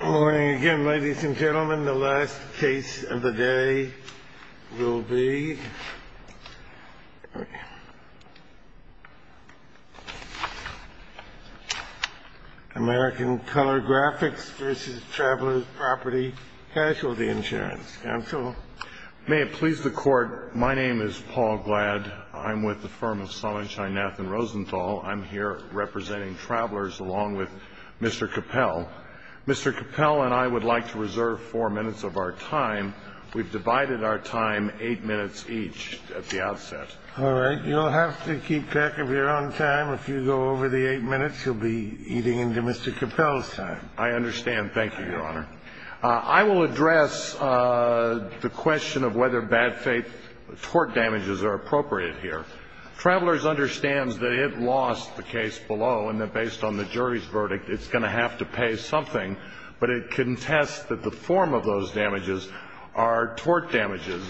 Good morning again, ladies and gentlemen. The last case of the day will be American Color Graphics v. Travelers Property Casualty Insurance. Counsel? May it please the Court, my name is Paul Glad. I'm with the firm of Sonnenschein, Nath & Rosenthal. I'm here representing Travelers along with Mr. Capel. Mr. Capel and I would like to reserve four minutes of our time. We've divided our time eight minutes each at the outset. All right. You'll have to keep track of your own time. If you go over the eight minutes, you'll be eating into Mr. Capel's time. I understand. Thank you, Your Honor. I will address the question of whether bad faith tort damages are appropriate here. Travelers understands that it lost the case below and that based on the jury's verdict, it's going to have to pay something, but it contests that the form of those damages are tort damages.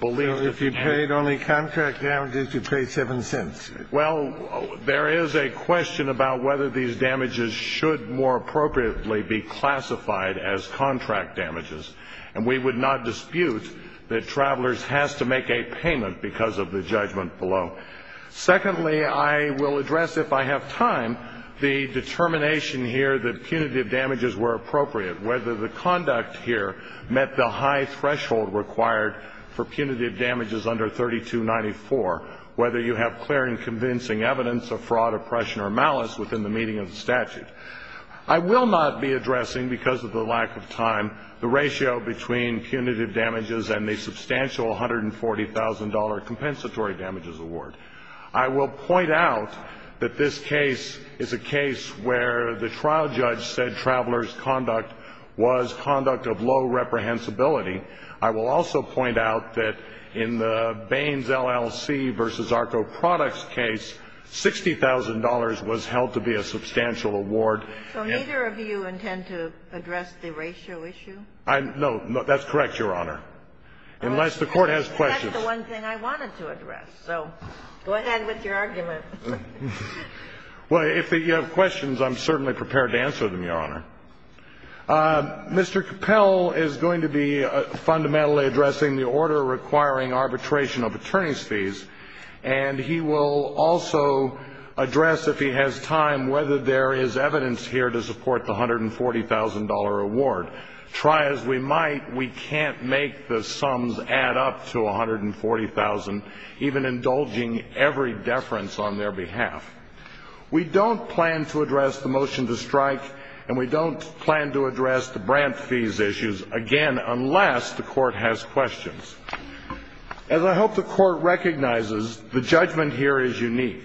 So if you paid only contract damages, you paid seven cents? Well, there is a question about whether these damages should more appropriately be classified as contract damages, and we would not dispute that Travelers has to make a payment because of the judgment below. Secondly, I will address, if I have time, the determination here that punitive damages were appropriate, whether the conduct here met the high threshold required for punitive damages under 3294, whether you have clear and convincing evidence of fraud, oppression, or malice within the meaning of the statute. I will not be addressing, because of the lack of time, the ratio between punitive damages and the substantial $140,000 compensatory damages award. I will point out that this case is a case where the trial judge said Travelers' conduct was conduct of low reprehensibility. I will also point out that in the Baines LLC v. ARCO Products case, $60,000 was held to be a substantial award. So neither of you intend to address the ratio issue? No. That's correct, Your Honor, unless the Court has questions. That's the one thing I wanted to address, so go ahead with your argument. Well, if you have questions, I'm certainly prepared to answer them, Your Honor. Mr. Capel is going to be fundamentally addressing the order requiring arbitration of attorney's fees, and he will also address, if he has time, whether there is evidence here to support the $140,000 award. Try as we might, we can't make the sums add up to $140,000, even indulging every deference on their behalf. We don't plan to address the motion to strike, and we don't plan to address the grant fees issues again, unless the Court has questions. As I hope the Court recognizes, the judgment here is unique.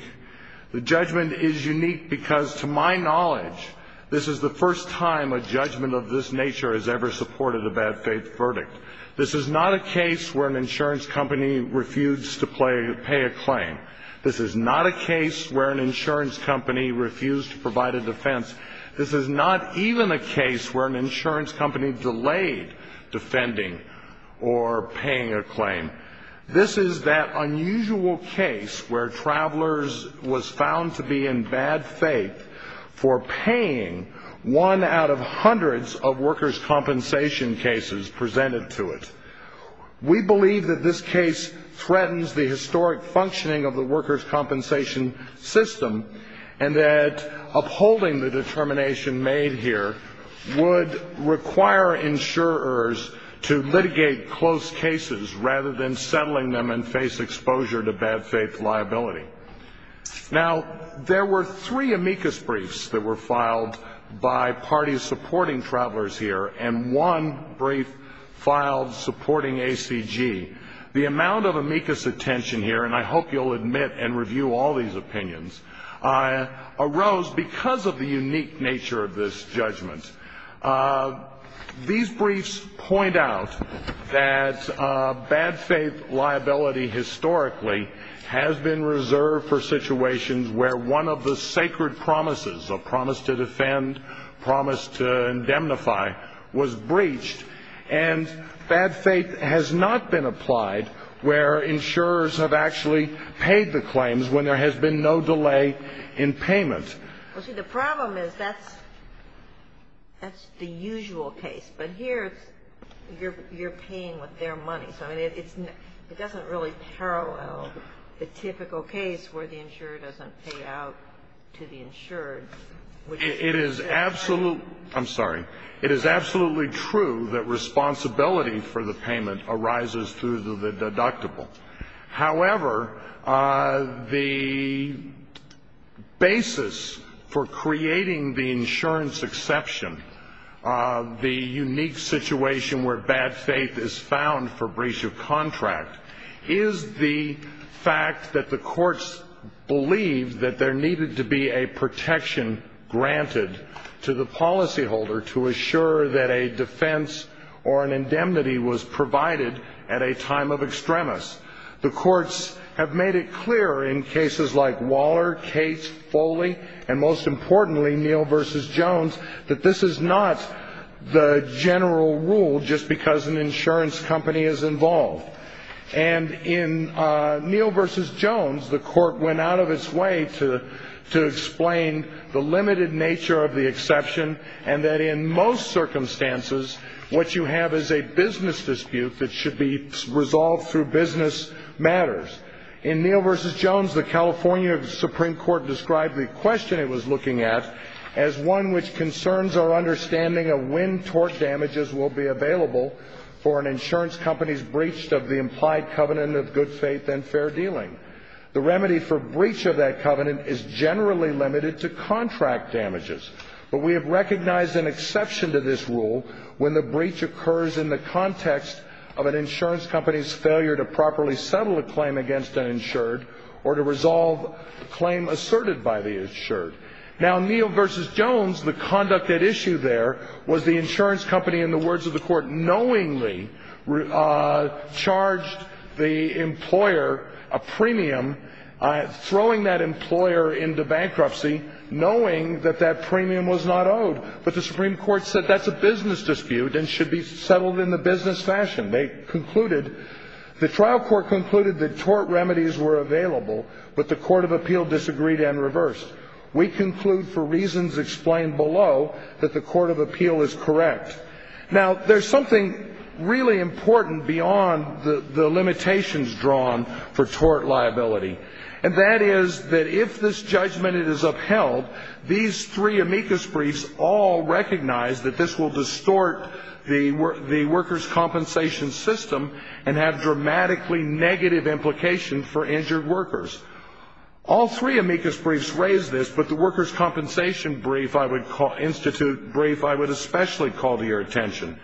The judgment is unique because, to my knowledge, this is the first time a judgment of this nature has ever supported a bad-faith verdict. This is not a case where an insurance company refused to pay a claim. This is not a case where an insurance company refused to provide a defense. This is not even a case where an insurance company delayed defending or paying a claim. This is that unusual case where Travelers was found to be in bad faith for paying one out of hundreds of workers' compensation cases presented to it. We believe that this case threatens the historic functioning of the workers' compensation system, and that upholding the determination made here would require insurers to litigate close cases rather than settling them and face exposure to bad-faith liability. Now, there were three amicus briefs that were filed by parties supporting Travelers here, and one brief filed supporting ACG. The amount of amicus attention here, and I hope you'll admit and review all these opinions, arose because of the unique nature of this judgment. These briefs point out that bad-faith liability historically has been reserved for situations where one of the sacred promises, a promise to defend, promise to indemnify, was breached, and bad faith has not been applied where insurers have actually paid the claims when there has been no delay in payment. Well, see, the problem is that's the usual case. But here it's you're paying with their money. So I mean, it doesn't really parallel the typical case where the insurer doesn't pay out to the insured. It is absolutely – I'm sorry. It is absolutely true that responsibility for the payment arises through the deductible. However, the basis for creating the insurance exception, the unique situation where bad faith is found for breach of contract, is the fact that the courts believe that there needed to be a protection granted to the policyholder to assure that a defense or an indemnity was provided at a time of extremis. The courts have made it clear in cases like Waller, Cates, Foley, and most importantly, Neal v. Jones, that this is not the general rule just because an insurance company is involved. And in Neal v. Jones, the court went out of its way to explain the limited nature of the exception and that in most circumstances, what you have is a business dispute that should be resolved through business matters. In Neal v. Jones, the California Supreme Court described the question it was looking at as one which concerns our understanding of when tort damages will be available for an insurance company's breach of the implied covenant of good faith and fair dealing. The remedy for breach of that covenant is generally limited to contract damages. But we have recognized an exception to this rule when the breach occurs in the context of an insurance company's failure to properly settle a claim against an insured or to resolve a claim asserted by the insured. Now, Neal v. Jones, the conduct at issue there was the insurance company, in the words of the court, knowingly charged the employer a premium, throwing that employer into bankruptcy, knowing that that premium was not owed. But the Supreme Court said that's a business dispute and should be settled in the business fashion. They concluded, the trial court concluded that tort remedies were available, but the court of appeal disagreed and reversed. We conclude for reasons explained below that the court of appeal is correct. Now, there's something really important beyond the limitations drawn for tort liability, and that is that if this judgment is upheld, these three amicus briefs all recognize that this will distort the workers' compensation system and have dramatically negative implications for injured workers. All three amicus briefs raise this, but the workers' compensation brief, if I would institute brief, I would especially call to your attention.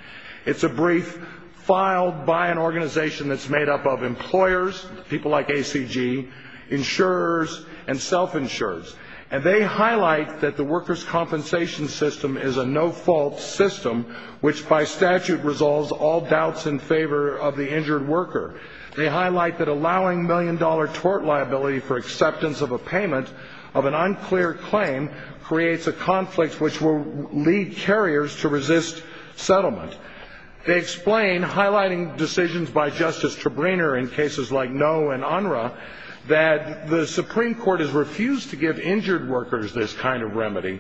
It's a brief filed by an organization that's made up of employers, people like ACG, insurers, and self-insurers. And they highlight that the workers' compensation system is a no-fault system, which by statute resolves all doubts in favor of the injured worker. They highlight that allowing million-dollar tort liability for acceptance of a payment of an unclear claim creates a conflict which will lead carriers to resist settlement. They explain, highlighting decisions by Justice Trebrner in cases like Noe and Unruh, that the Supreme Court has refused to give injured workers this kind of remedy,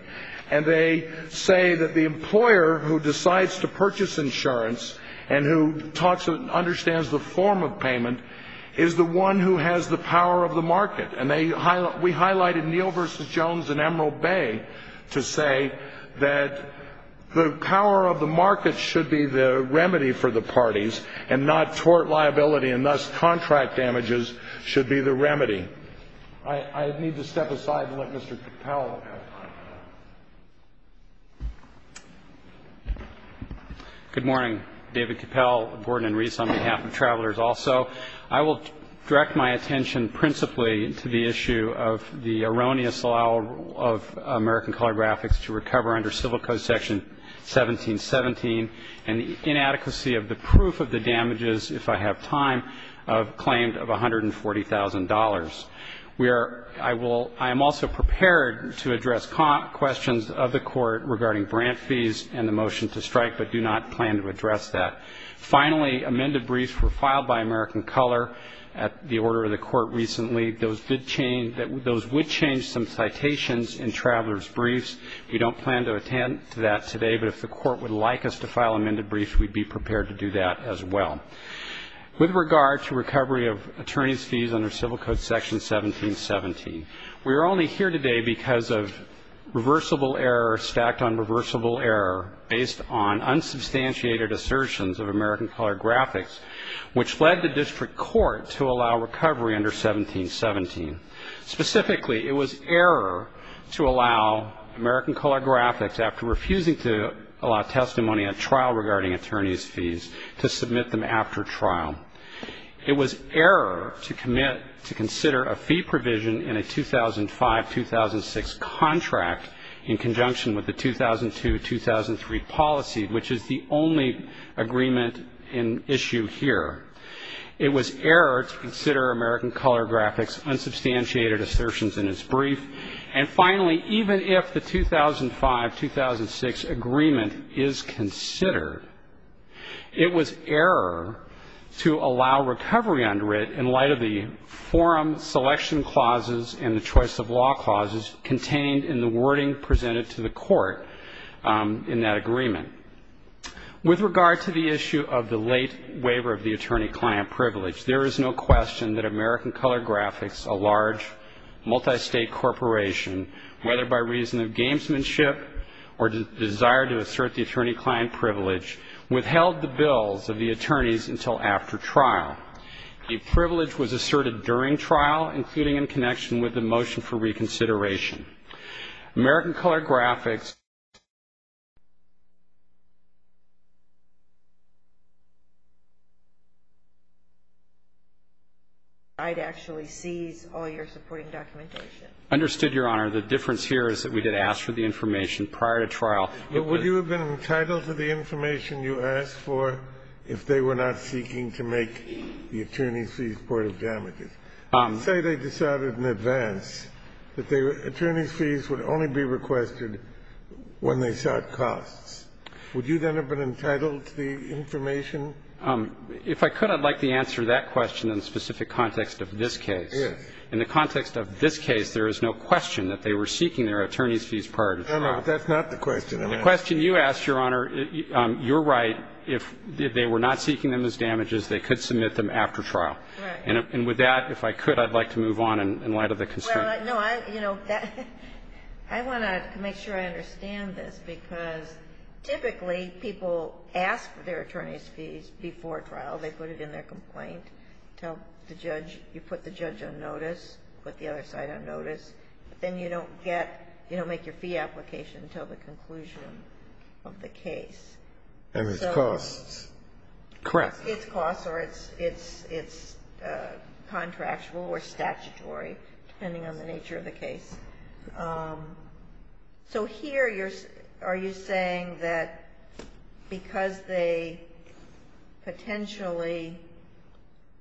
and they say that the employer who decides to purchase insurance and who talks and understands the form of payment is the one who has the power of the market. And we highlighted Neal v. Jones in Emerald Bay to say that the power of the market should be the remedy for the parties and not tort liability and thus contract damages should be the remedy. I need to step aside and let Mr. Cappell have the floor. Good morning. David Cappell, Gordon and Reese on behalf of Travelers also. I will direct my attention principally to the issue of the erroneous allow of American Calligraphics to recover under Civil Code Section 1717 and the inadequacy of the proof of the damages, if I have time, of a claim of $140,000. I am also prepared to address questions of the Court regarding grant fees and the motion to strike, but do not plan to address that. Finally, amended briefs were filed by American Color at the order of the Court recently. Those would change some citations in Travelers' Briefs. We don't plan to attend to that today, but if the Court would like us to file amended briefs, we'd be prepared to do that as well. With regard to recovery of attorney's fees under Civil Code Section 1717, we are only here today because of reversible error stacked on reversible error based on unsubstantiated assertions of American Calligraphics, which led the district court to allow recovery under 1717. Specifically, it was error to allow American Calligraphics, after refusing to allow testimony at trial regarding attorney's fees, to submit them after trial. It was error to commit to consider a fee provision in a 2005-2006 contract in conjunction with the 2002-2003 policy, which is the only agreement in issue here. It was error to consider American Calligraphics' unsubstantiated assertions in its brief. And finally, even if the 2005-2006 agreement is considered, it was error to allow recovery under it in light of the forum selection clauses and the choice of law clauses contained in the wording presented to the Court in that agreement. With regard to the issue of the late waiver of the attorney-client privilege, there is no question that American Calligraphics, a large multi-state corporation, whether by reason of gamesmanship or desire to assert the attorney-client privilege, withheld the bills of the attorneys until after trial. The privilege was asserted during trial, including in connection with the motion for reconsideration. American Calligraphics... I'd actually seize all your supporting documentation. Understood, Your Honor. The difference here is that we did ask for the information prior to trial. But would you have been entitled to the information you asked for if they were not seeking to make the attorney's fees part of damages? Say they decided in advance that the attorney's fees would only be requested when they sought costs. Would you then have been entitled to the information? If I could, I'd like to answer that question in the specific context of this case. In the context of this case, there is no question that they were seeking their attorney's fees prior to trial. No, no. That's not the question I'm asking. The question you asked, Your Honor, you're right. If they were not seeking them as damages, they could submit them after trial. Right. And with that, if I could, I'd like to move on in light of the constraint. Well, no, I, you know, I want to make sure I understand this because typically people ask for their attorney's fees before trial. They put it in their complaint, tell the judge. You put the judge on notice, put the other side on notice. Then you don't get, you don't make your fee application until the conclusion of the case. And it's costs. Correct. It's costs or it's contractual or statutory, depending on the nature of the case. So here you're, are you saying that because they potentially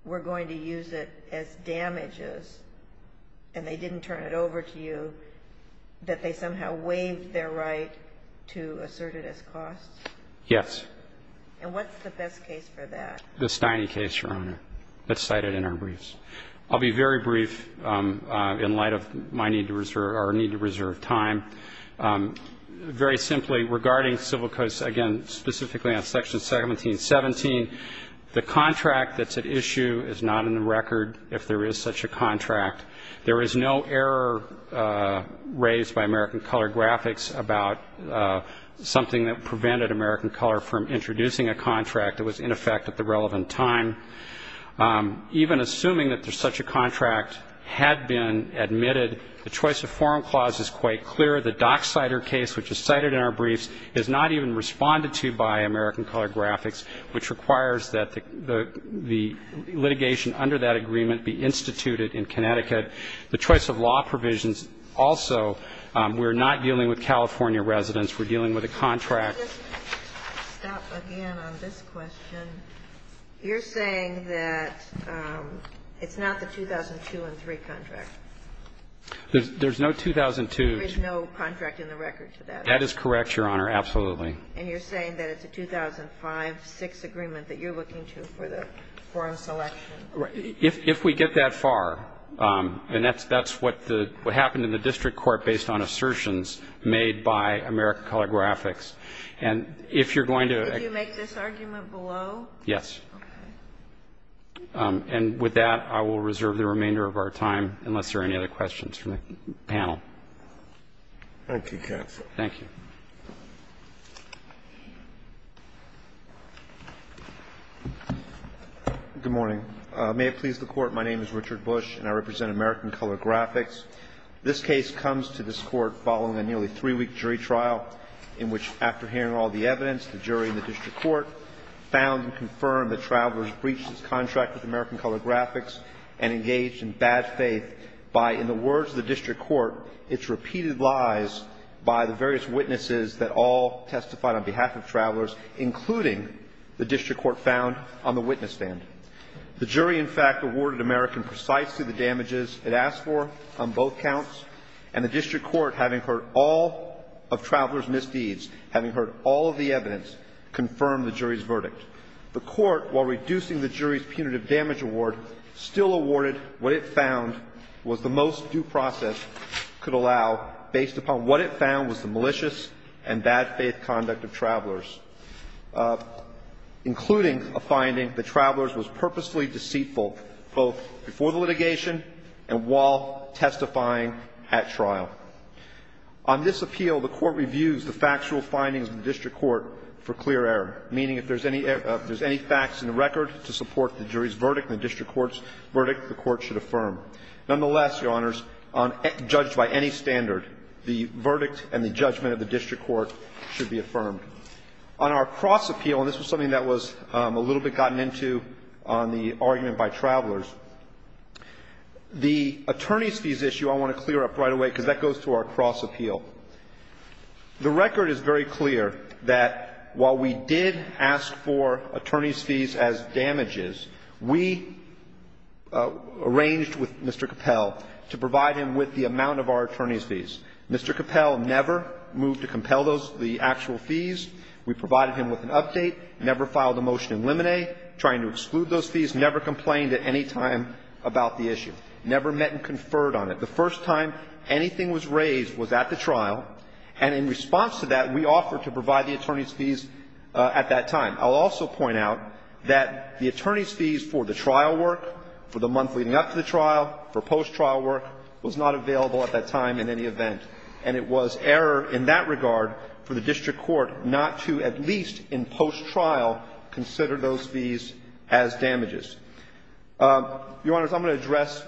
were going to use it as damages and they didn't turn it over to you, that they somehow waived their right to assert it as costs? Yes. And what's the best case for that? The Steine case, Your Honor, that's cited in our briefs. I'll be very brief in light of my need to reserve, or need to reserve time. Very simply, regarding civil codes, again, specifically on Section 1717, the contract that's at issue is not in the record if there is such a contract. There is no error raised by American Color Graphics about something that prevented American Color from introducing a contract that was in effect at the relevant time. Even assuming that there's such a contract had been admitted, the choice of forum clause is quite clear. The Dock Cider case, which is cited in our briefs, is not even responded to by American Color Graphics, which requires that the litigation under that agreement be instituted in Connecticut. The choice of law provisions also, we're not dealing with California residents. We're dealing with a contract. Let me just stop again on this question. You're saying that it's not the 2002 and 3 contract. There's no 2002. There is no contract in the record to that. That is correct, Your Honor, absolutely. And you're saying that it's a 2005-6 agreement that you're looking to for the forum selection. If we get that far, and that's what happened in the district court based on assertions made by American Color Graphics, and if you're going to Did you make this argument below? Yes. Okay. And with that, I will reserve the remainder of our time, unless there are any other questions from the panel. Thank you, counsel. Thank you. Good morning. May it please the Court. My name is Richard Bush, and I represent American Color Graphics. This case comes to this Court following a nearly three-week jury trial in which, after hearing all the evidence, the jury in the district court found and confirmed that Travelers breached its contract with American Color Graphics and engaged in bad faith by, in the words of the district court, its repeated lies by the various witnesses that all testified on behalf of Travelers, including the district court found on the witness stand. The jury, in fact, awarded American precisely the damages it asked for on both counts, and the district court, having heard all of Travelers' misdeeds, having heard all of the evidence, confirmed the jury's verdict. The court, while reducing the jury's punitive damage award, still awarded what it found was the most due process could allow, based upon what it found was the malicious and bad faith conduct of Travelers, including a finding that Travelers was purposefully deceitful, both before the litigation and while testifying at trial. On this appeal, the Court reviews the factual findings of the district court for clear error, meaning if there's any facts in the record to support the jury's verdict and the district court's verdict, the court should affirm. Nonetheless, Your Honors, judged by any standard, the verdict and the judgment of the district court should be affirmed. On our cross-appeal, and this was something that was a little bit gotten into on the argument by Travelers, the attorneys' fees issue I want to clear up right away because that goes to our cross-appeal. The record is very clear that while we did ask for attorneys' fees as damages, we arranged with Mr. Capel to provide him with the amount of our attorneys' fees. Mr. Capel never moved to compel those, the actual fees. We provided him with an update, never filed a motion in limine, trying to exclude those fees, never complained at any time about the issue, never met and conferred on it. The first time anything was raised was at the trial, and in response to that, we offered to provide the attorneys' fees at that time. I'll also point out that the attorneys' fees for the trial work, for the month leading up to the trial, for post-trial work, was not available at that time in any event. And it was error in that regard for the district court not to, at least in post-trial, consider those fees as damages. Your Honors, I'm going to address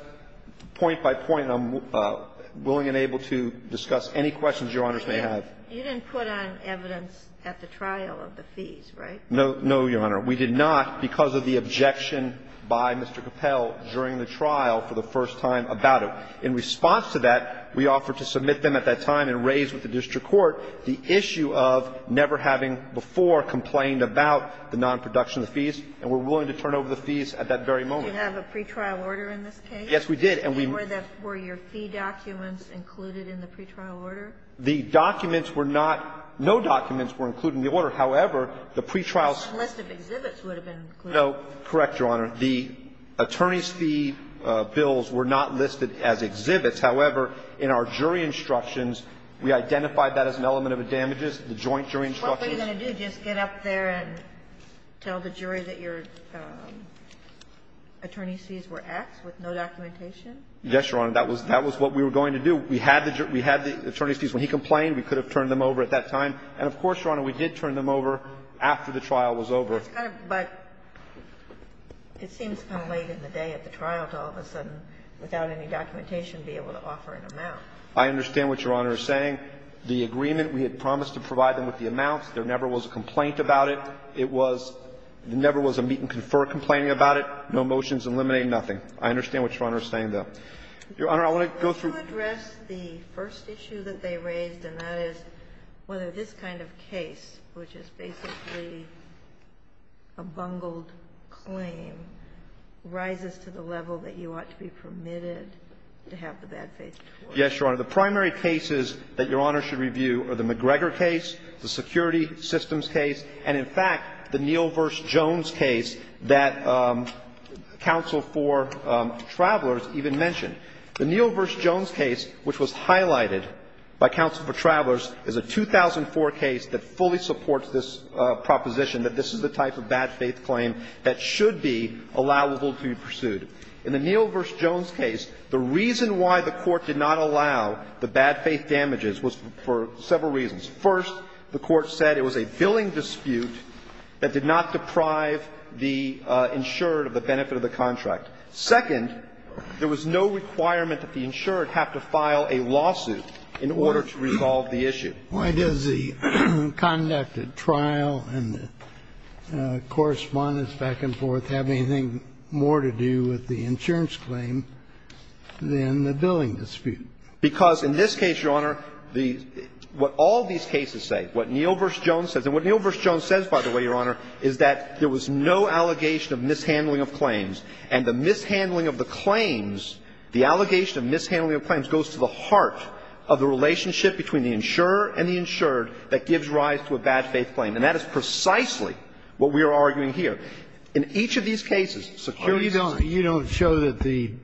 point by point, and I'm willing and able to discuss any questions Your Honors may have. You didn't put on evidence at the trial of the fees, right? No, Your Honor. We did not, because of the objection by Mr. Capel during the trial for the first time about it. In response to that, we offered to submit them at that time and raise with the district court the issue of never having before complained about the nonproduction of the fees, and we're willing to turn over the fees at that very moment. You didn't have a pretrial order in this case? Yes, we did. And were your fee documents included in the pretrial order? The documents were not. No documents were included in the order. However, the pretrial order. A list of exhibits would have been included. No. Correct, Your Honor. The attorney's fee bills were not listed as exhibits. However, in our jury instructions, we identified that as an element of a damages, the joint jury instructions. What were you going to do, just get up there and tell the jury that your attorney's fees were X with no documentation? Yes, Your Honor. That was what we were going to do. We had the attorney's fees. When he complained, we could have turned them over at that time. And of course, Your Honor, we did turn them over after the trial was over. But it seems kind of late in the day at the trial to all of a sudden, without any documentation, be able to offer an amount. I understand what Your Honor is saying. The agreement, we had promised to provide them with the amounts. There never was a complaint about it. It was ñ there never was a meet-and-confer complaining about it, no motions eliminating nothing. I understand what Your Honor is saying, though. Your Honor, I want to go through ñ Yes, Your Honor. The primary cases that Your Honor should review are the McGregor case, the security systems case, and, in fact, the Neal v. Jones case that counsel for travelers even mentioned. The Neal v. Jones case, which was highlighted, was a case in which there was no It was a case in which there was no documentation. by counsel for travelers is a 2004 case that fully supports this proposition that this is the type of bad faith claim that should be allowable to be pursued. In the Neal v. Jones case, the reason why the court did not allow the bad faith damages was for several reasons. First, the court said it was a billing dispute that did not deprive the insured of the benefit of the contract. Second, there was no requirement that the insured have to file a lawsuit in order to resolve the issue. Why does the conduct at trial and the correspondence back and forth have anything more to do with the insurance claim than the billing dispute? Because in this case, Your Honor, the ñ what all these cases say, what Neal v. Jones says ñ and what Neal v. Jones says, by the way, Your Honor, is that there was no And so the mishandling of the claims, the allegation of mishandling of claims, goes to the heart of the relationship between the insurer and the insured that gives rise to a bad faith claim. And that is precisely what we are arguing here. In each of these cases, security ñ Kennedy. You don't show that the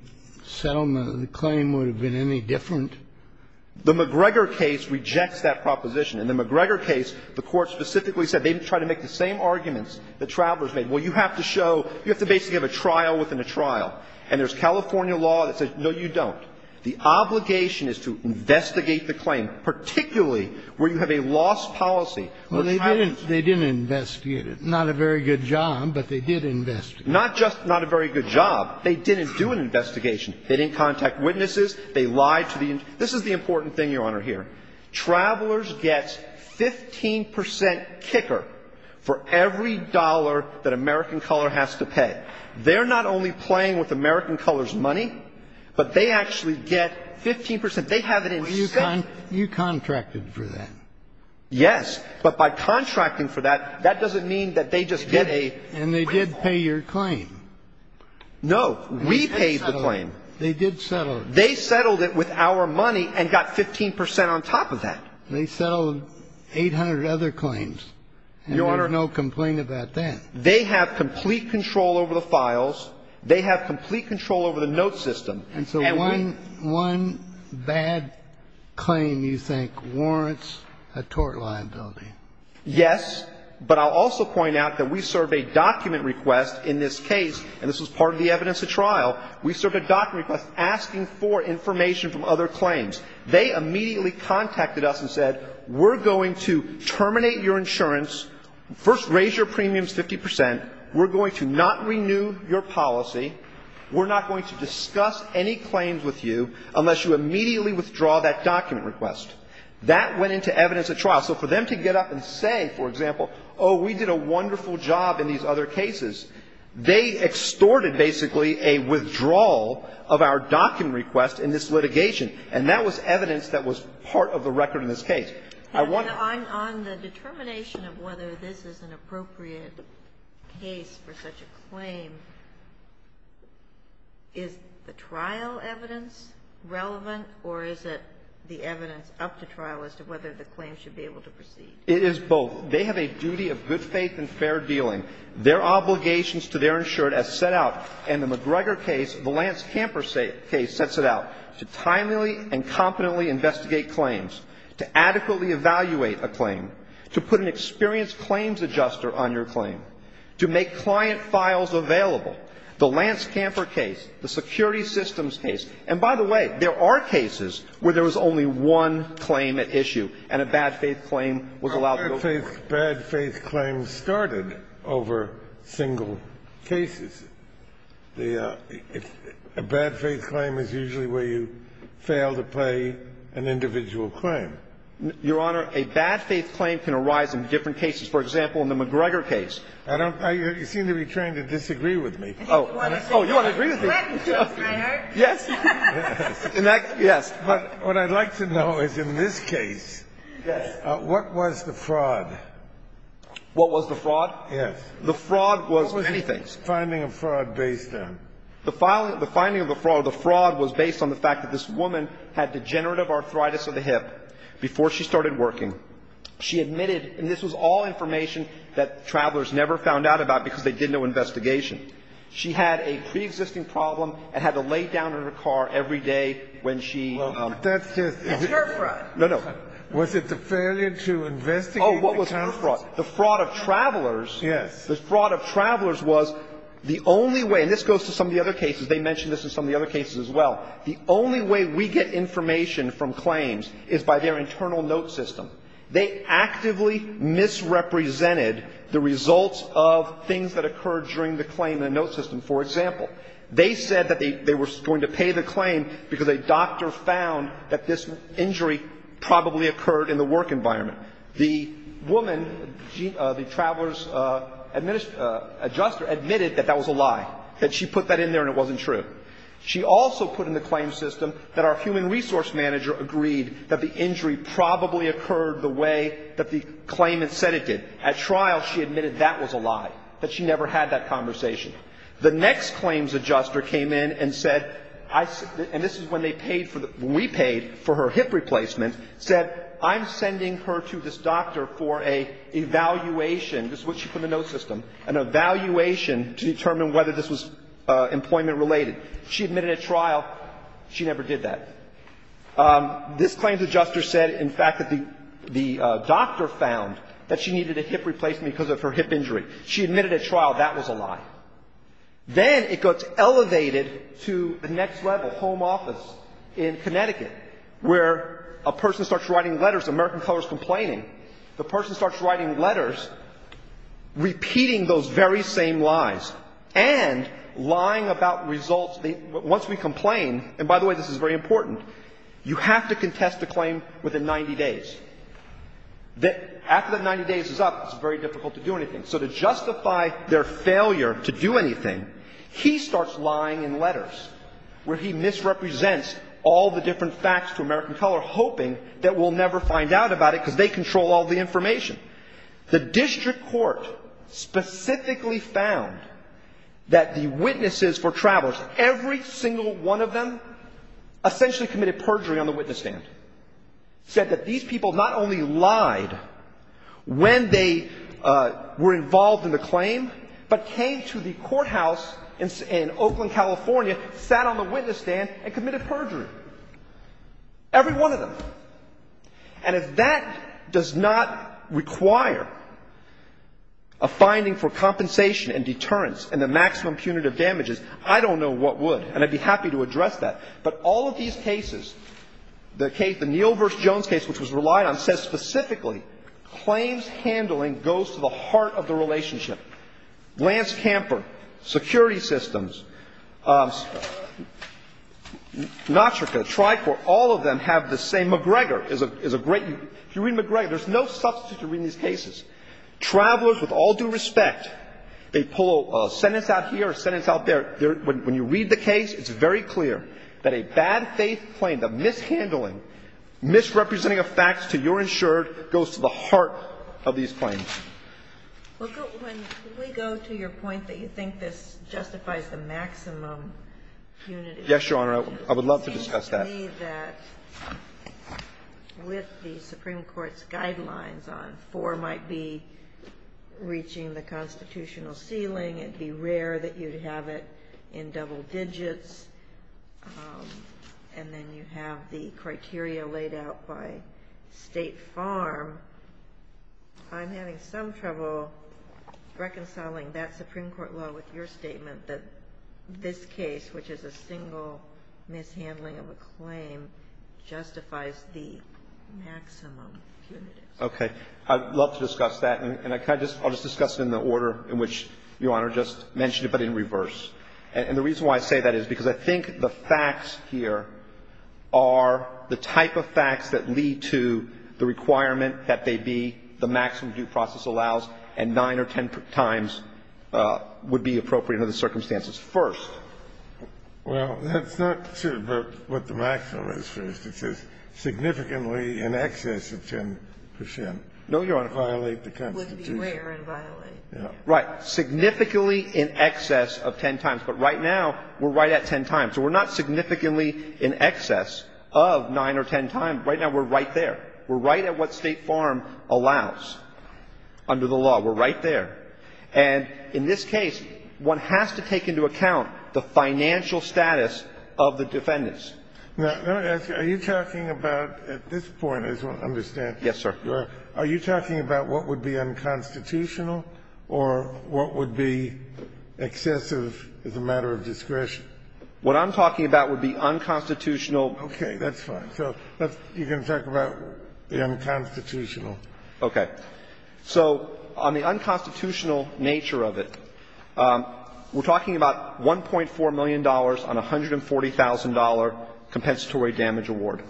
settlement, the claim would have been any different? The McGregor case rejects that proposition. In the McGregor case, the Court specifically said they didn't try to make the same arguments the travelers made. Well, you have to show ñ you have to basically have a trial within a trial. And there's California law that says, no, you don't. The obligation is to investigate the claim, particularly where you have a lost policy for travelers. Well, they didn't ñ they didn't investigate it. Not a very good job, but they did investigate. Not just not a very good job. They didn't do an investigation. They didn't contact witnesses. They lied to the ñ this is the important thing, Your Honor, here. Travelers gets 15 percent kicker for every dollar that American Color has to pay. They're not only playing with American Color's money, but they actually get 15 percent. They have it in ñ You contracted for that. Yes. But by contracting for that, that doesn't mean that they just get a ñ And they did pay your claim. No. We paid the claim. They did settle it. They settled it with our money and got 15 percent on top of that. They settled 800 other claims. Your Honor ñ And there's no complaint about that. They have complete control over the files. They have complete control over the note system. And so one ñ one bad claim, you think, warrants a tort liability. Yes. But I'll also point out that we served a document request in this case, and this was part of the evidence at trial. We served a document request asking for information from other claims. They immediately contacted us and said, we're going to terminate your insurance, first raise your premiums 50 percent. We're going to not renew your policy. We're not going to discuss any claims with you unless you immediately withdraw that document request. That went into evidence at trial. So for them to get up and say, for example, oh, we did a wonderful job in these other cases, they extorted, basically, a withdrawal of our document request in this litigation. And that was evidence that was part of the record in this case. I want ñ On the determination of whether this is an appropriate case for such a claim, is the trial evidence relevant, or is it the evidence up to trial as to whether the claim should be able to proceed? It is both. They have a duty of good faith and fair dealing. Their obligations to their insured as set out in the McGregor case, the Lance Camper case, sets it out to timely and competently investigate claims, to adequately evaluate a claim, to put an experienced claims adjuster on your claim, to make client files available. The Lance Camper case, the security systems case ñ and by the way, there are cases where there was only one claim at issue and a bad faith claim was allowed to go forward. The bad faith claims started over single cases. A bad faith claim is usually where you fail to pay an individual claim. Your Honor, a bad faith claim can arise in different cases. For example, in the McGregor case. I don't ñ you seem to be trying to disagree with me. Oh, you want to agree with me? Yes. Yes. But what I'd like to know is in this case, what was the fraud? What was the fraud? Yes. The fraud was anything. What was the finding of fraud based on? The finding of the fraud was based on the fact that this woman had degenerative arthritis of the hip before she started working. She admitted ñ and this was all information that travelers never found out about because they did no investigation. She had a preexisting problem and had to lay down in her car every day when she ñ Well, that's just ñ It's her fraud. No, no. Was it the failure to investigate the account? Oh, what was her fraud? The fraud of travelers. Yes. The fraud of travelers was the only way ñ and this goes to some of the other cases. They mentioned this in some of the other cases as well. The only way we get information from claims is by their internal note system. They actively misrepresented the results of things that occurred during the claim in the note system. For example, they said that they were going to pay the claim because a doctor found that this injury probably occurred in the work environment. The woman, the traveler's adjuster, admitted that that was a lie, that she put that in there and it wasn't true. She also put in the claim system that our human resource manager agreed that the injury occurred the way that the claimant said it did. At trial, she admitted that was a lie, that she never had that conversation. The next claims adjuster came in and said ñ and this is when they paid for the ñ when we paid for her hip replacement ñ said, I'm sending her to this doctor for an evaluation ñ this is what she put in the note system ñ an evaluation to determine whether this was employment-related. She admitted at trial she never did that. This claims adjuster said, in fact, that the doctor found that she needed a hip replacement because of her hip injury. She admitted at trial that was a lie. Then it gets elevated to the next level, home office in Connecticut, where a person starts writing letters, American colors complaining. The person starts writing letters repeating those very same lies and lying about results. Once we complain ñ and by the way, this is very important ñ you have to contest the claim within 90 days. After that 90 days is up, it's very difficult to do anything. So to justify their failure to do anything, he starts lying in letters where he misrepresents all the different facts to American color, hoping that we'll never find out about it because they control all the information. The district court specifically found that the witnesses for travelers, every single one of them, essentially committed perjury on the witness stand, said that these people not only lied when they were involved in the claim, but came to the courthouse in Oakland, California, sat on the witness stand and committed perjury. Every one of them. And if that does not require a finding for compensation and deterrence and the maximum punitive damages, I don't know what would. And I'd be happy to address that. But all of these cases, the Neal v. Jones case, which was relied on, says specifically claims handling goes to the heart of the relationship. Lance Camper, security systems, Notrica, TriCorp, all of them have the same If you read McGregor, there's no substitute to reading these cases. Travelers, with all due respect, they pull a sentence out here, a sentence out there. When you read the case, it's very clear that a bad faith claim, the mishandling, misrepresenting of facts to your insured goes to the heart of these claims. When we go to your point that you think this justifies the maximum punitive damages. Yes, Your Honor. I would love to discuss that. I believe that with the Supreme Court's guidelines on four might be reaching the constitutional ceiling. It'd be rare that you'd have it in double digits. And then you have the criteria laid out by State Farm. I'm having some trouble reconciling that Supreme Court law with your statement that this case, which is a single mishandling of a claim, justifies the maximum punitive. Okay. I'd love to discuss that. And I'll just discuss it in the order in which Your Honor just mentioned it, but in reverse. And the reason why I say that is because I think the facts here are the type of facts that lead to the requirement that they be the maximum due process allows and nine or ten times would be appropriate under the circumstances. First. Well, that's not what the maximum is, first. It says significantly in excess of 10 percent. No, Your Honor, violate the Constitution. It would be rare and violate. Right. Significantly in excess of ten times. But right now, we're right at ten times. So we're not significantly in excess of nine or ten times. Right now, we're right there. We're right at what State Farm allows under the law. We're right there. And in this case, one has to take into account the financial status of the defendants. Now, let me ask you, are you talking about at this point, I just want to understand. Yes, sir. Are you talking about what would be unconstitutional or what would be excessive as a matter of discretion? What I'm talking about would be unconstitutional. Okay. That's fine. So you can talk about the unconstitutional. Okay. So on the unconstitutional nature of it, we're talking about $1.4 million on $140,000 compensatory damage award.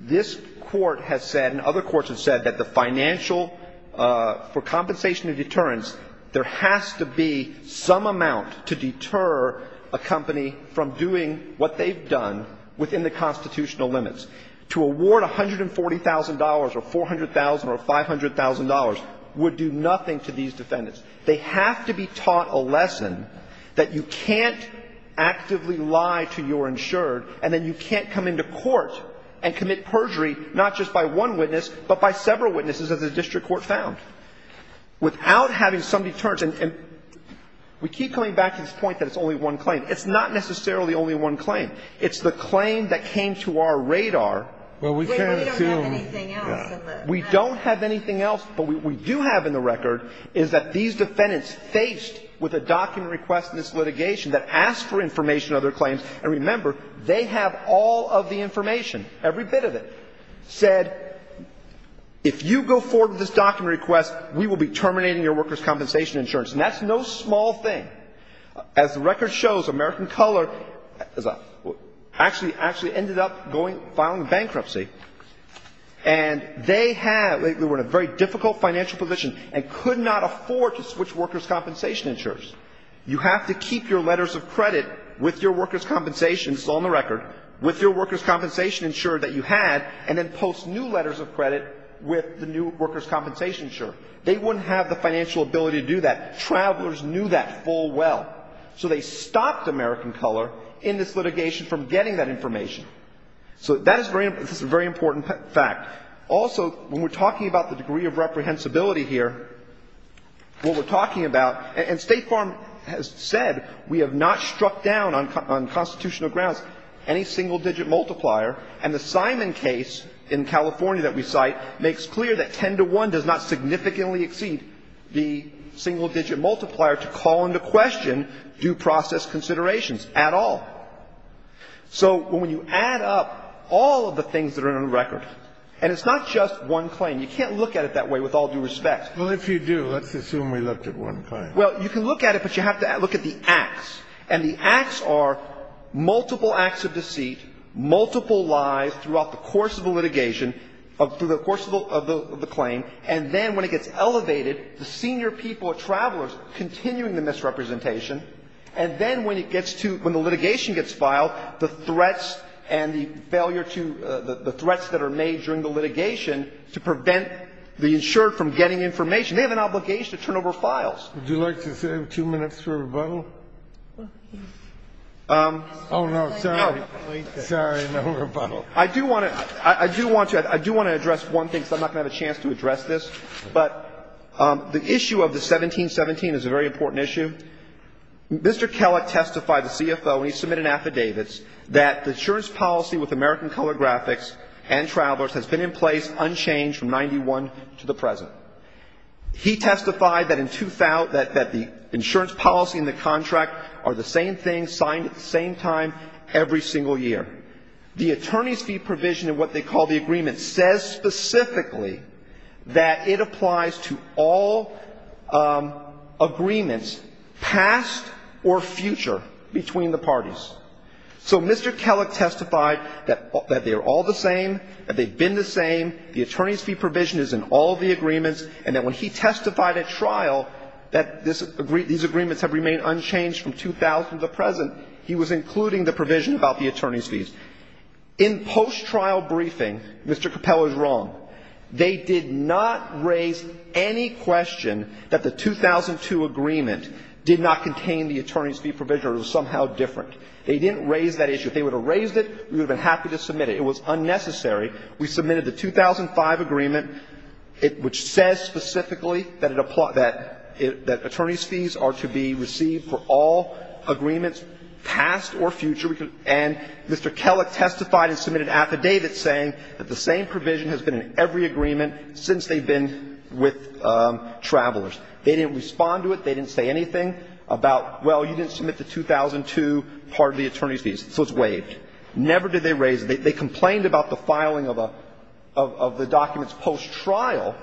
This Court has said and other courts have said that the financial for compensation and deterrence, there has to be some amount to deter a company from doing what they've done within the constitutional limits. The $140,000 or $400,000 or $500,000 would do nothing to these defendants. They have to be taught a lesson that you can't actively lie to your insured, and then you can't come into court and commit perjury not just by one witness, but by several witnesses as the district court found, without having some deterrence. And we keep coming back to this point that it's only one claim. It's not necessarily only one claim. It's the claim that came to our radar. Well, we can't assume. We don't have anything else in the record. We don't have anything else. But what we do have in the record is that these defendants faced with a document request in this litigation that asked for information of their claims. And remember, they have all of the information, every bit of it, said, if you go forward with this document request, we will be terminating your workers' compensation insurance. And that's no small thing. As the record shows, American Color actually ended up going, filing bankruptcy, and they were in a very difficult financial position and could not afford to switch workers' compensation insurers. You have to keep your letters of credit with your workers' compensation, it's all in the record, with your workers' compensation insurer that you had, and then post new letters of credit with the new workers' compensation insurer. They wouldn't have the financial ability to do that. Travelers knew that full well. So they stopped American Color in this litigation from getting that information. So that is a very important fact. Also, when we're talking about the degree of reprehensibility here, what we're talking about, and State Farm has said we have not struck down on constitutional grounds any single-digit multiplier, and the Simon case in California that we cite makes clear that there is not a single-digit multiplier to call into question due process considerations at all. So when you add up all of the things that are in the record, and it's not just one claim, you can't look at it that way with all due respect. Well, if you do, let's assume we looked at one claim. Well, you can look at it, but you have to look at the acts. And the acts are multiple acts of deceit, multiple lies throughout the course of the litigation, through the course of the claim, and then when it gets elevated, the senior people, travelers, continuing the misrepresentation, and then when it gets to – when the litigation gets filed, the threats and the failure to – the threats that are made during the litigation to prevent the insured from getting information, they have an obligation to turn over files. Would you like to save two minutes for a rebuttal? Oh, no. Sorry. Sorry, no rebuttal. I do want to – I do want to address one thing, because I'm not going to have a chance to address this, but the issue of the 1717 is a very important issue. Mr. Kellogg testified to CFO when he submitted affidavits that the insurance policy with American Color Graphics and Travelers has been in place unchanged from 1991 to the present. He testified that in – that the insurance policy and the contract are the same thing, signed at the same time every single year. The attorney's fee provision in what they call the agreement says specifically that it applies to all agreements past or future between the parties. So Mr. Kellogg testified that they are all the same, that they've been the same, the attorney's fee provision is in all the agreements, and that when he testified at trial that this – these agreements have remained unchanged from 2000 to the present, he was concluding the provision about the attorney's fees. In post-trial briefing, Mr. Capella is wrong. They did not raise any question that the 2002 agreement did not contain the attorney's fee provision or it was somehow different. They didn't raise that issue. If they would have raised it, we would have been happy to submit it. It was unnecessary. for all agreements past or future. And Mr. Kellogg testified and submitted affidavits saying that the same provision has been in every agreement since they've been with Travelers. They didn't respond to it. They didn't say anything about, well, you didn't submit the 2002 part of the attorney's fees, so it's waived. Never did they raise it. They complained about the filing of a – of the documents post-trial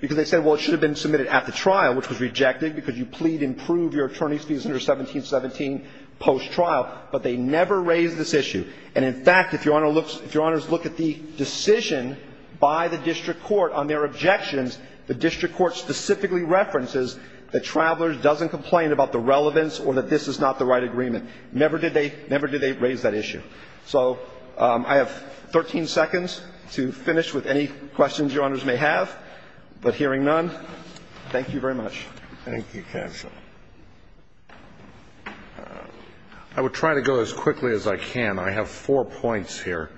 because they said, well, it should have been submitted at the trial, which was rejected because you plead and prove your attorney's fees under 1717 post-trial. But they never raised this issue. And, in fact, if Your Honor looks – if Your Honors look at the decision by the district court on their objections, the district court specifically references that Travelers doesn't complain about the relevance or that this is not the right agreement. Never did they – never did they raise that issue. So I have 13 seconds to finish with any questions Your Honors may have. But hearing none, thank you very much. Thank you, counsel. I would try to go as quickly as I can. I have four points here.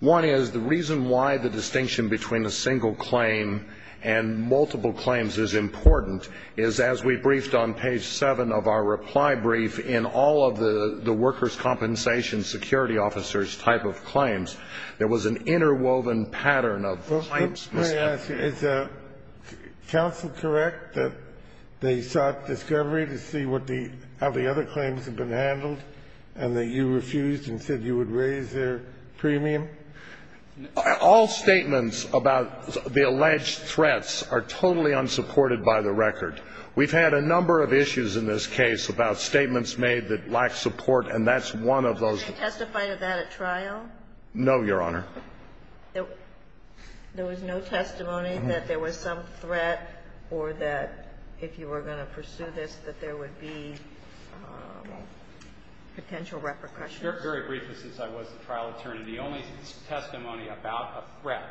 One is the reason why the distinction between a single claim and multiple claims is important is as we briefed on page 7 of our reply brief in all of the workers' compensation security officers' type of claims, there was an interwoven pattern of claims. Let me ask you, is counsel correct that they sought discovery to see what the – how the other claims have been handled, and that you refused and said you would raise their premium? All statements about the alleged threats are totally unsupported by the record. We've had a number of issues in this case about statements made that lack support, and that's one of those. Did they testify to that at trial? No, Your Honor. There was no testimony that there was some threat or that if you were going to pursue this that there would be potential repercussions? Very briefly, since I was the trial attorney, the only testimony about a threat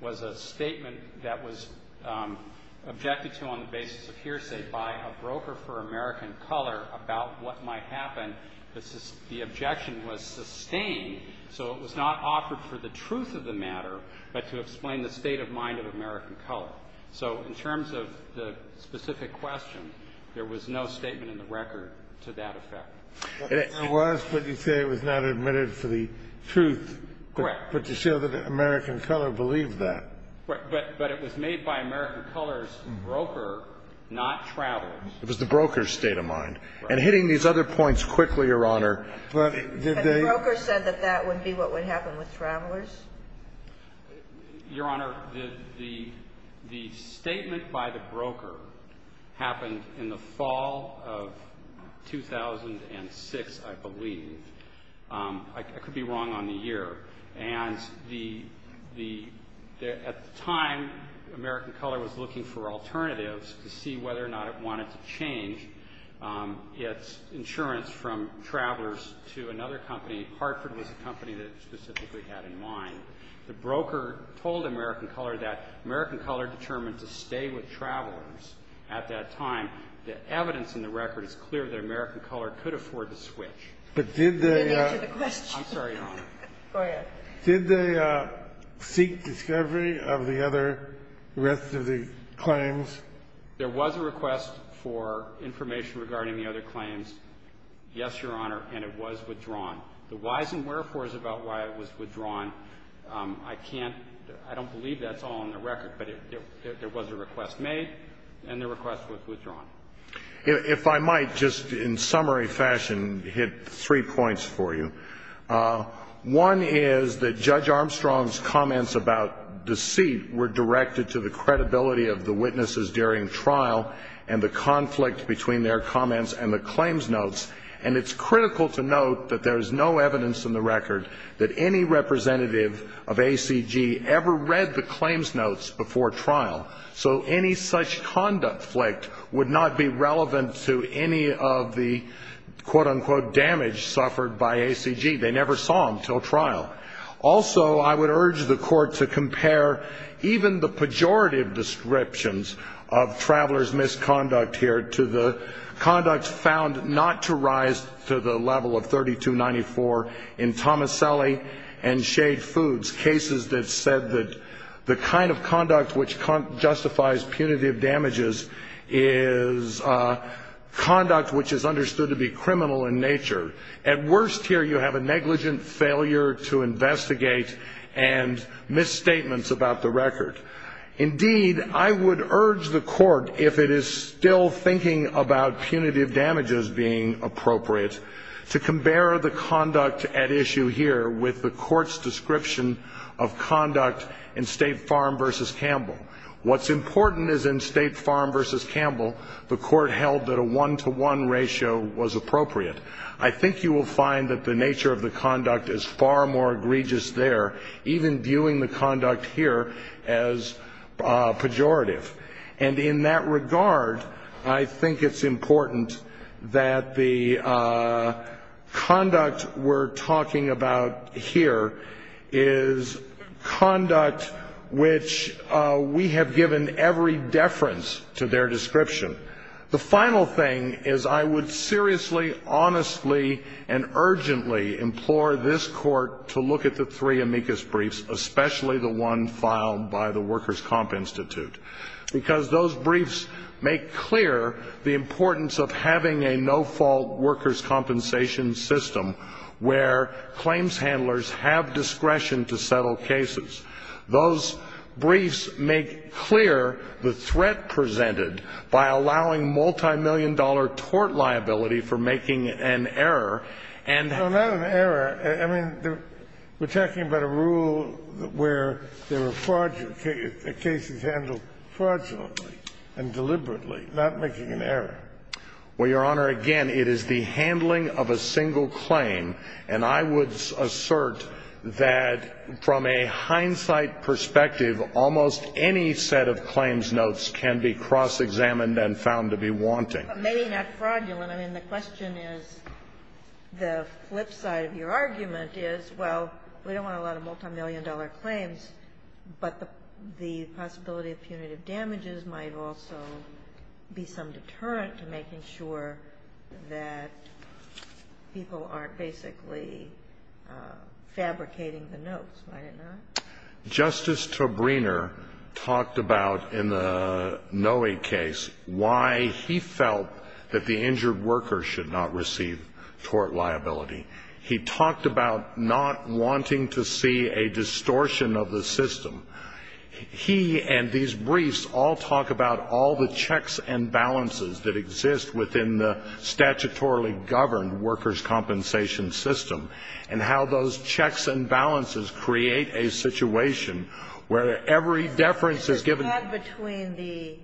was a statement that was objected to on the basis of hearsay by a broker for American Color about what might happen. And the objection was sustained, so it was not offered for the truth of the matter, but to explain the state of mind of American Color. So in terms of the specific question, there was no statement in the record to that effect. It was, but you say it was not admitted for the truth. Correct. But to show that American Color believed that. But it was made by American Color's broker, not travelers. It was the broker's state of mind. Right. I'm hitting these other points quickly, Your Honor. But did they? The broker said that that would be what would happen with travelers. Your Honor, the statement by the broker happened in the fall of 2006, I believe. I could be wrong on the year. And the at the time, American Color was looking for alternatives to see whether or not it wanted to change its insurance from travelers to another company. Hartford was a company that it specifically had in mind. The broker told American Color that American Color determined to stay with travelers at that time. The evidence in the record is clear that American Color could afford to switch. But did they? Let me answer the question. I'm sorry, Your Honor. Go ahead. Did they seek discovery of the other rest of the claims? There was a request for information regarding the other claims, yes, Your Honor, and it was withdrawn. The whys and wherefores about why it was withdrawn, I can't – I don't believe that's all in the record, but there was a request made and the request was withdrawn. If I might, just in summary fashion, hit three points for you. One is that Judge Armstrong's comments about deceit were directed to the credibility of the witnesses during trial and the conflict between their comments and the claims notes. And it's critical to note that there is no evidence in the record that any representative of ACG ever read the claims notes before trial. So any such conduct flaked would not be relevant to any of the, quote, unquote, damage suffered by ACG. They never saw them until trial. Also, I would urge the Court to compare even the pejorative descriptions of travelers' misconduct here to the conduct found not to rise to the level of 3294 in Tomaselli and Shade Foods, cases that said that the kind of conduct which justifies punitive damages is conduct which is understood to be criminal in nature. At worst here, you have a negligent failure to investigate and misstatements about the record. Indeed, I would urge the Court, if it is still thinking about punitive damages being appropriate, to compare the conduct at issue here with the Court's description of conduct in State Farm v. Campbell. What's important is in State Farm v. Campbell, the Court held that a one-to-one ratio was appropriate. I think you will find that the nature of the conduct is far more egregious there, even viewing the conduct here as pejorative. And in that regard, I think it's important that the conduct we're talking about here is conduct which we have given every deference to their description. The final thing is I would seriously, honestly, and urgently implore this Court to look at the three amicus briefs, especially the one filed by the Workers' Comp Institute, because those briefs make clear the importance of having a no-fault workers' compensation system where claims handlers have discretion to settle cases. Those briefs make clear the threat presented by allowing multimillion-dollar tort liability for making an error. No, not an error. I mean, we're talking about a rule where there were cases handled fraudulently and deliberately, not making an error. Well, Your Honor, again, it is the handling of a single claim. And I would assert that from a hindsight perspective, almost any set of claims notes can be cross-examined and found to be wanting. But maybe not fraudulent. I mean, the question is, the flip side of your argument is, well, we don't want a lot of multimillion-dollar claims, but the possibility of punitive damages might also be some deterrent to making sure that people aren't basically fabricating the notes, might it not? Justice Tabriner talked about in the Noe case why he felt that the injured worker should not receive tort liability. He talked about not wanting to see a distortion of the system. He and these briefs all talk about all the checks and balances that exist within the statutorily governed workers' compensation system and how those checks and balances create a situation where every deference is given. This is not between the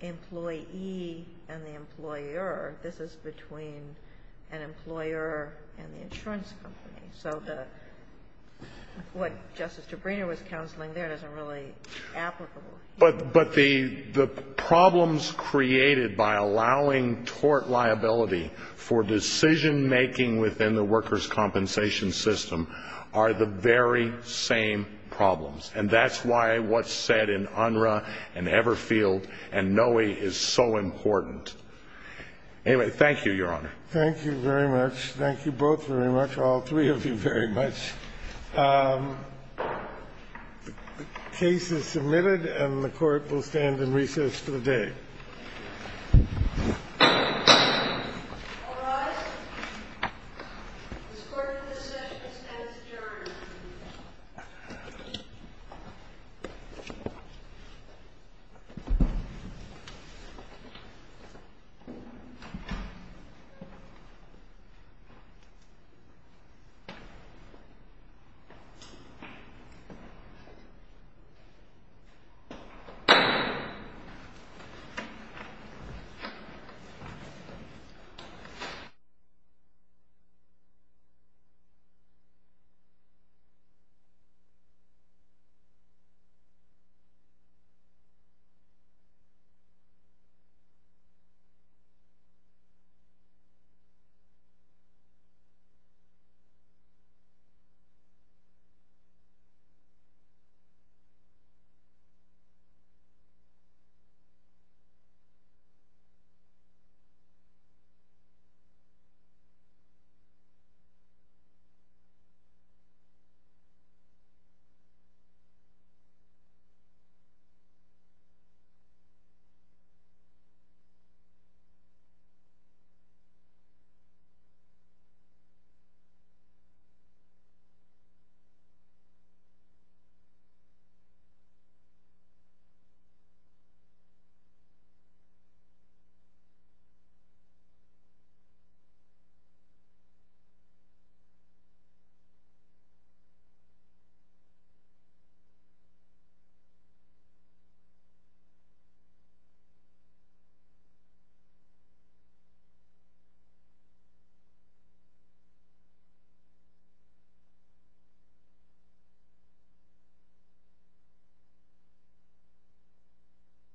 employee and the employer. This is between an employer and the insurance company. So what Justice Tabriner was counseling there isn't really applicable. But the problems created by allowing tort liability for decision-making within the workers' compensation system are the very same problems. And that's why what's said in Unruh and Everfield and Noe is so important. Anyway, thank you, Your Honor. Thank you very much. Thank you both very much, all three of you very much. The case is submitted, and the Court will stand in recess for the day. All rise. This Court's decision stands adjourned.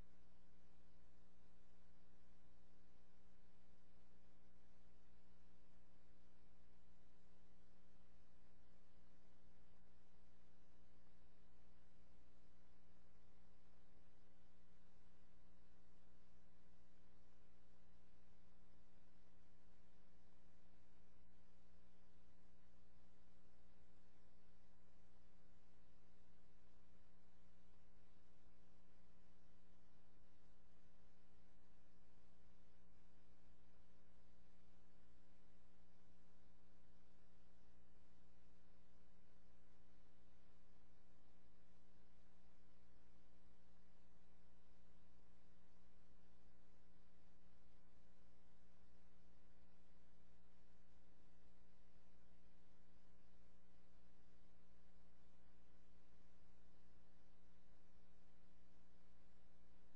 Thank you. Thank you. Thank you. Thank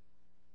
you. Thank you.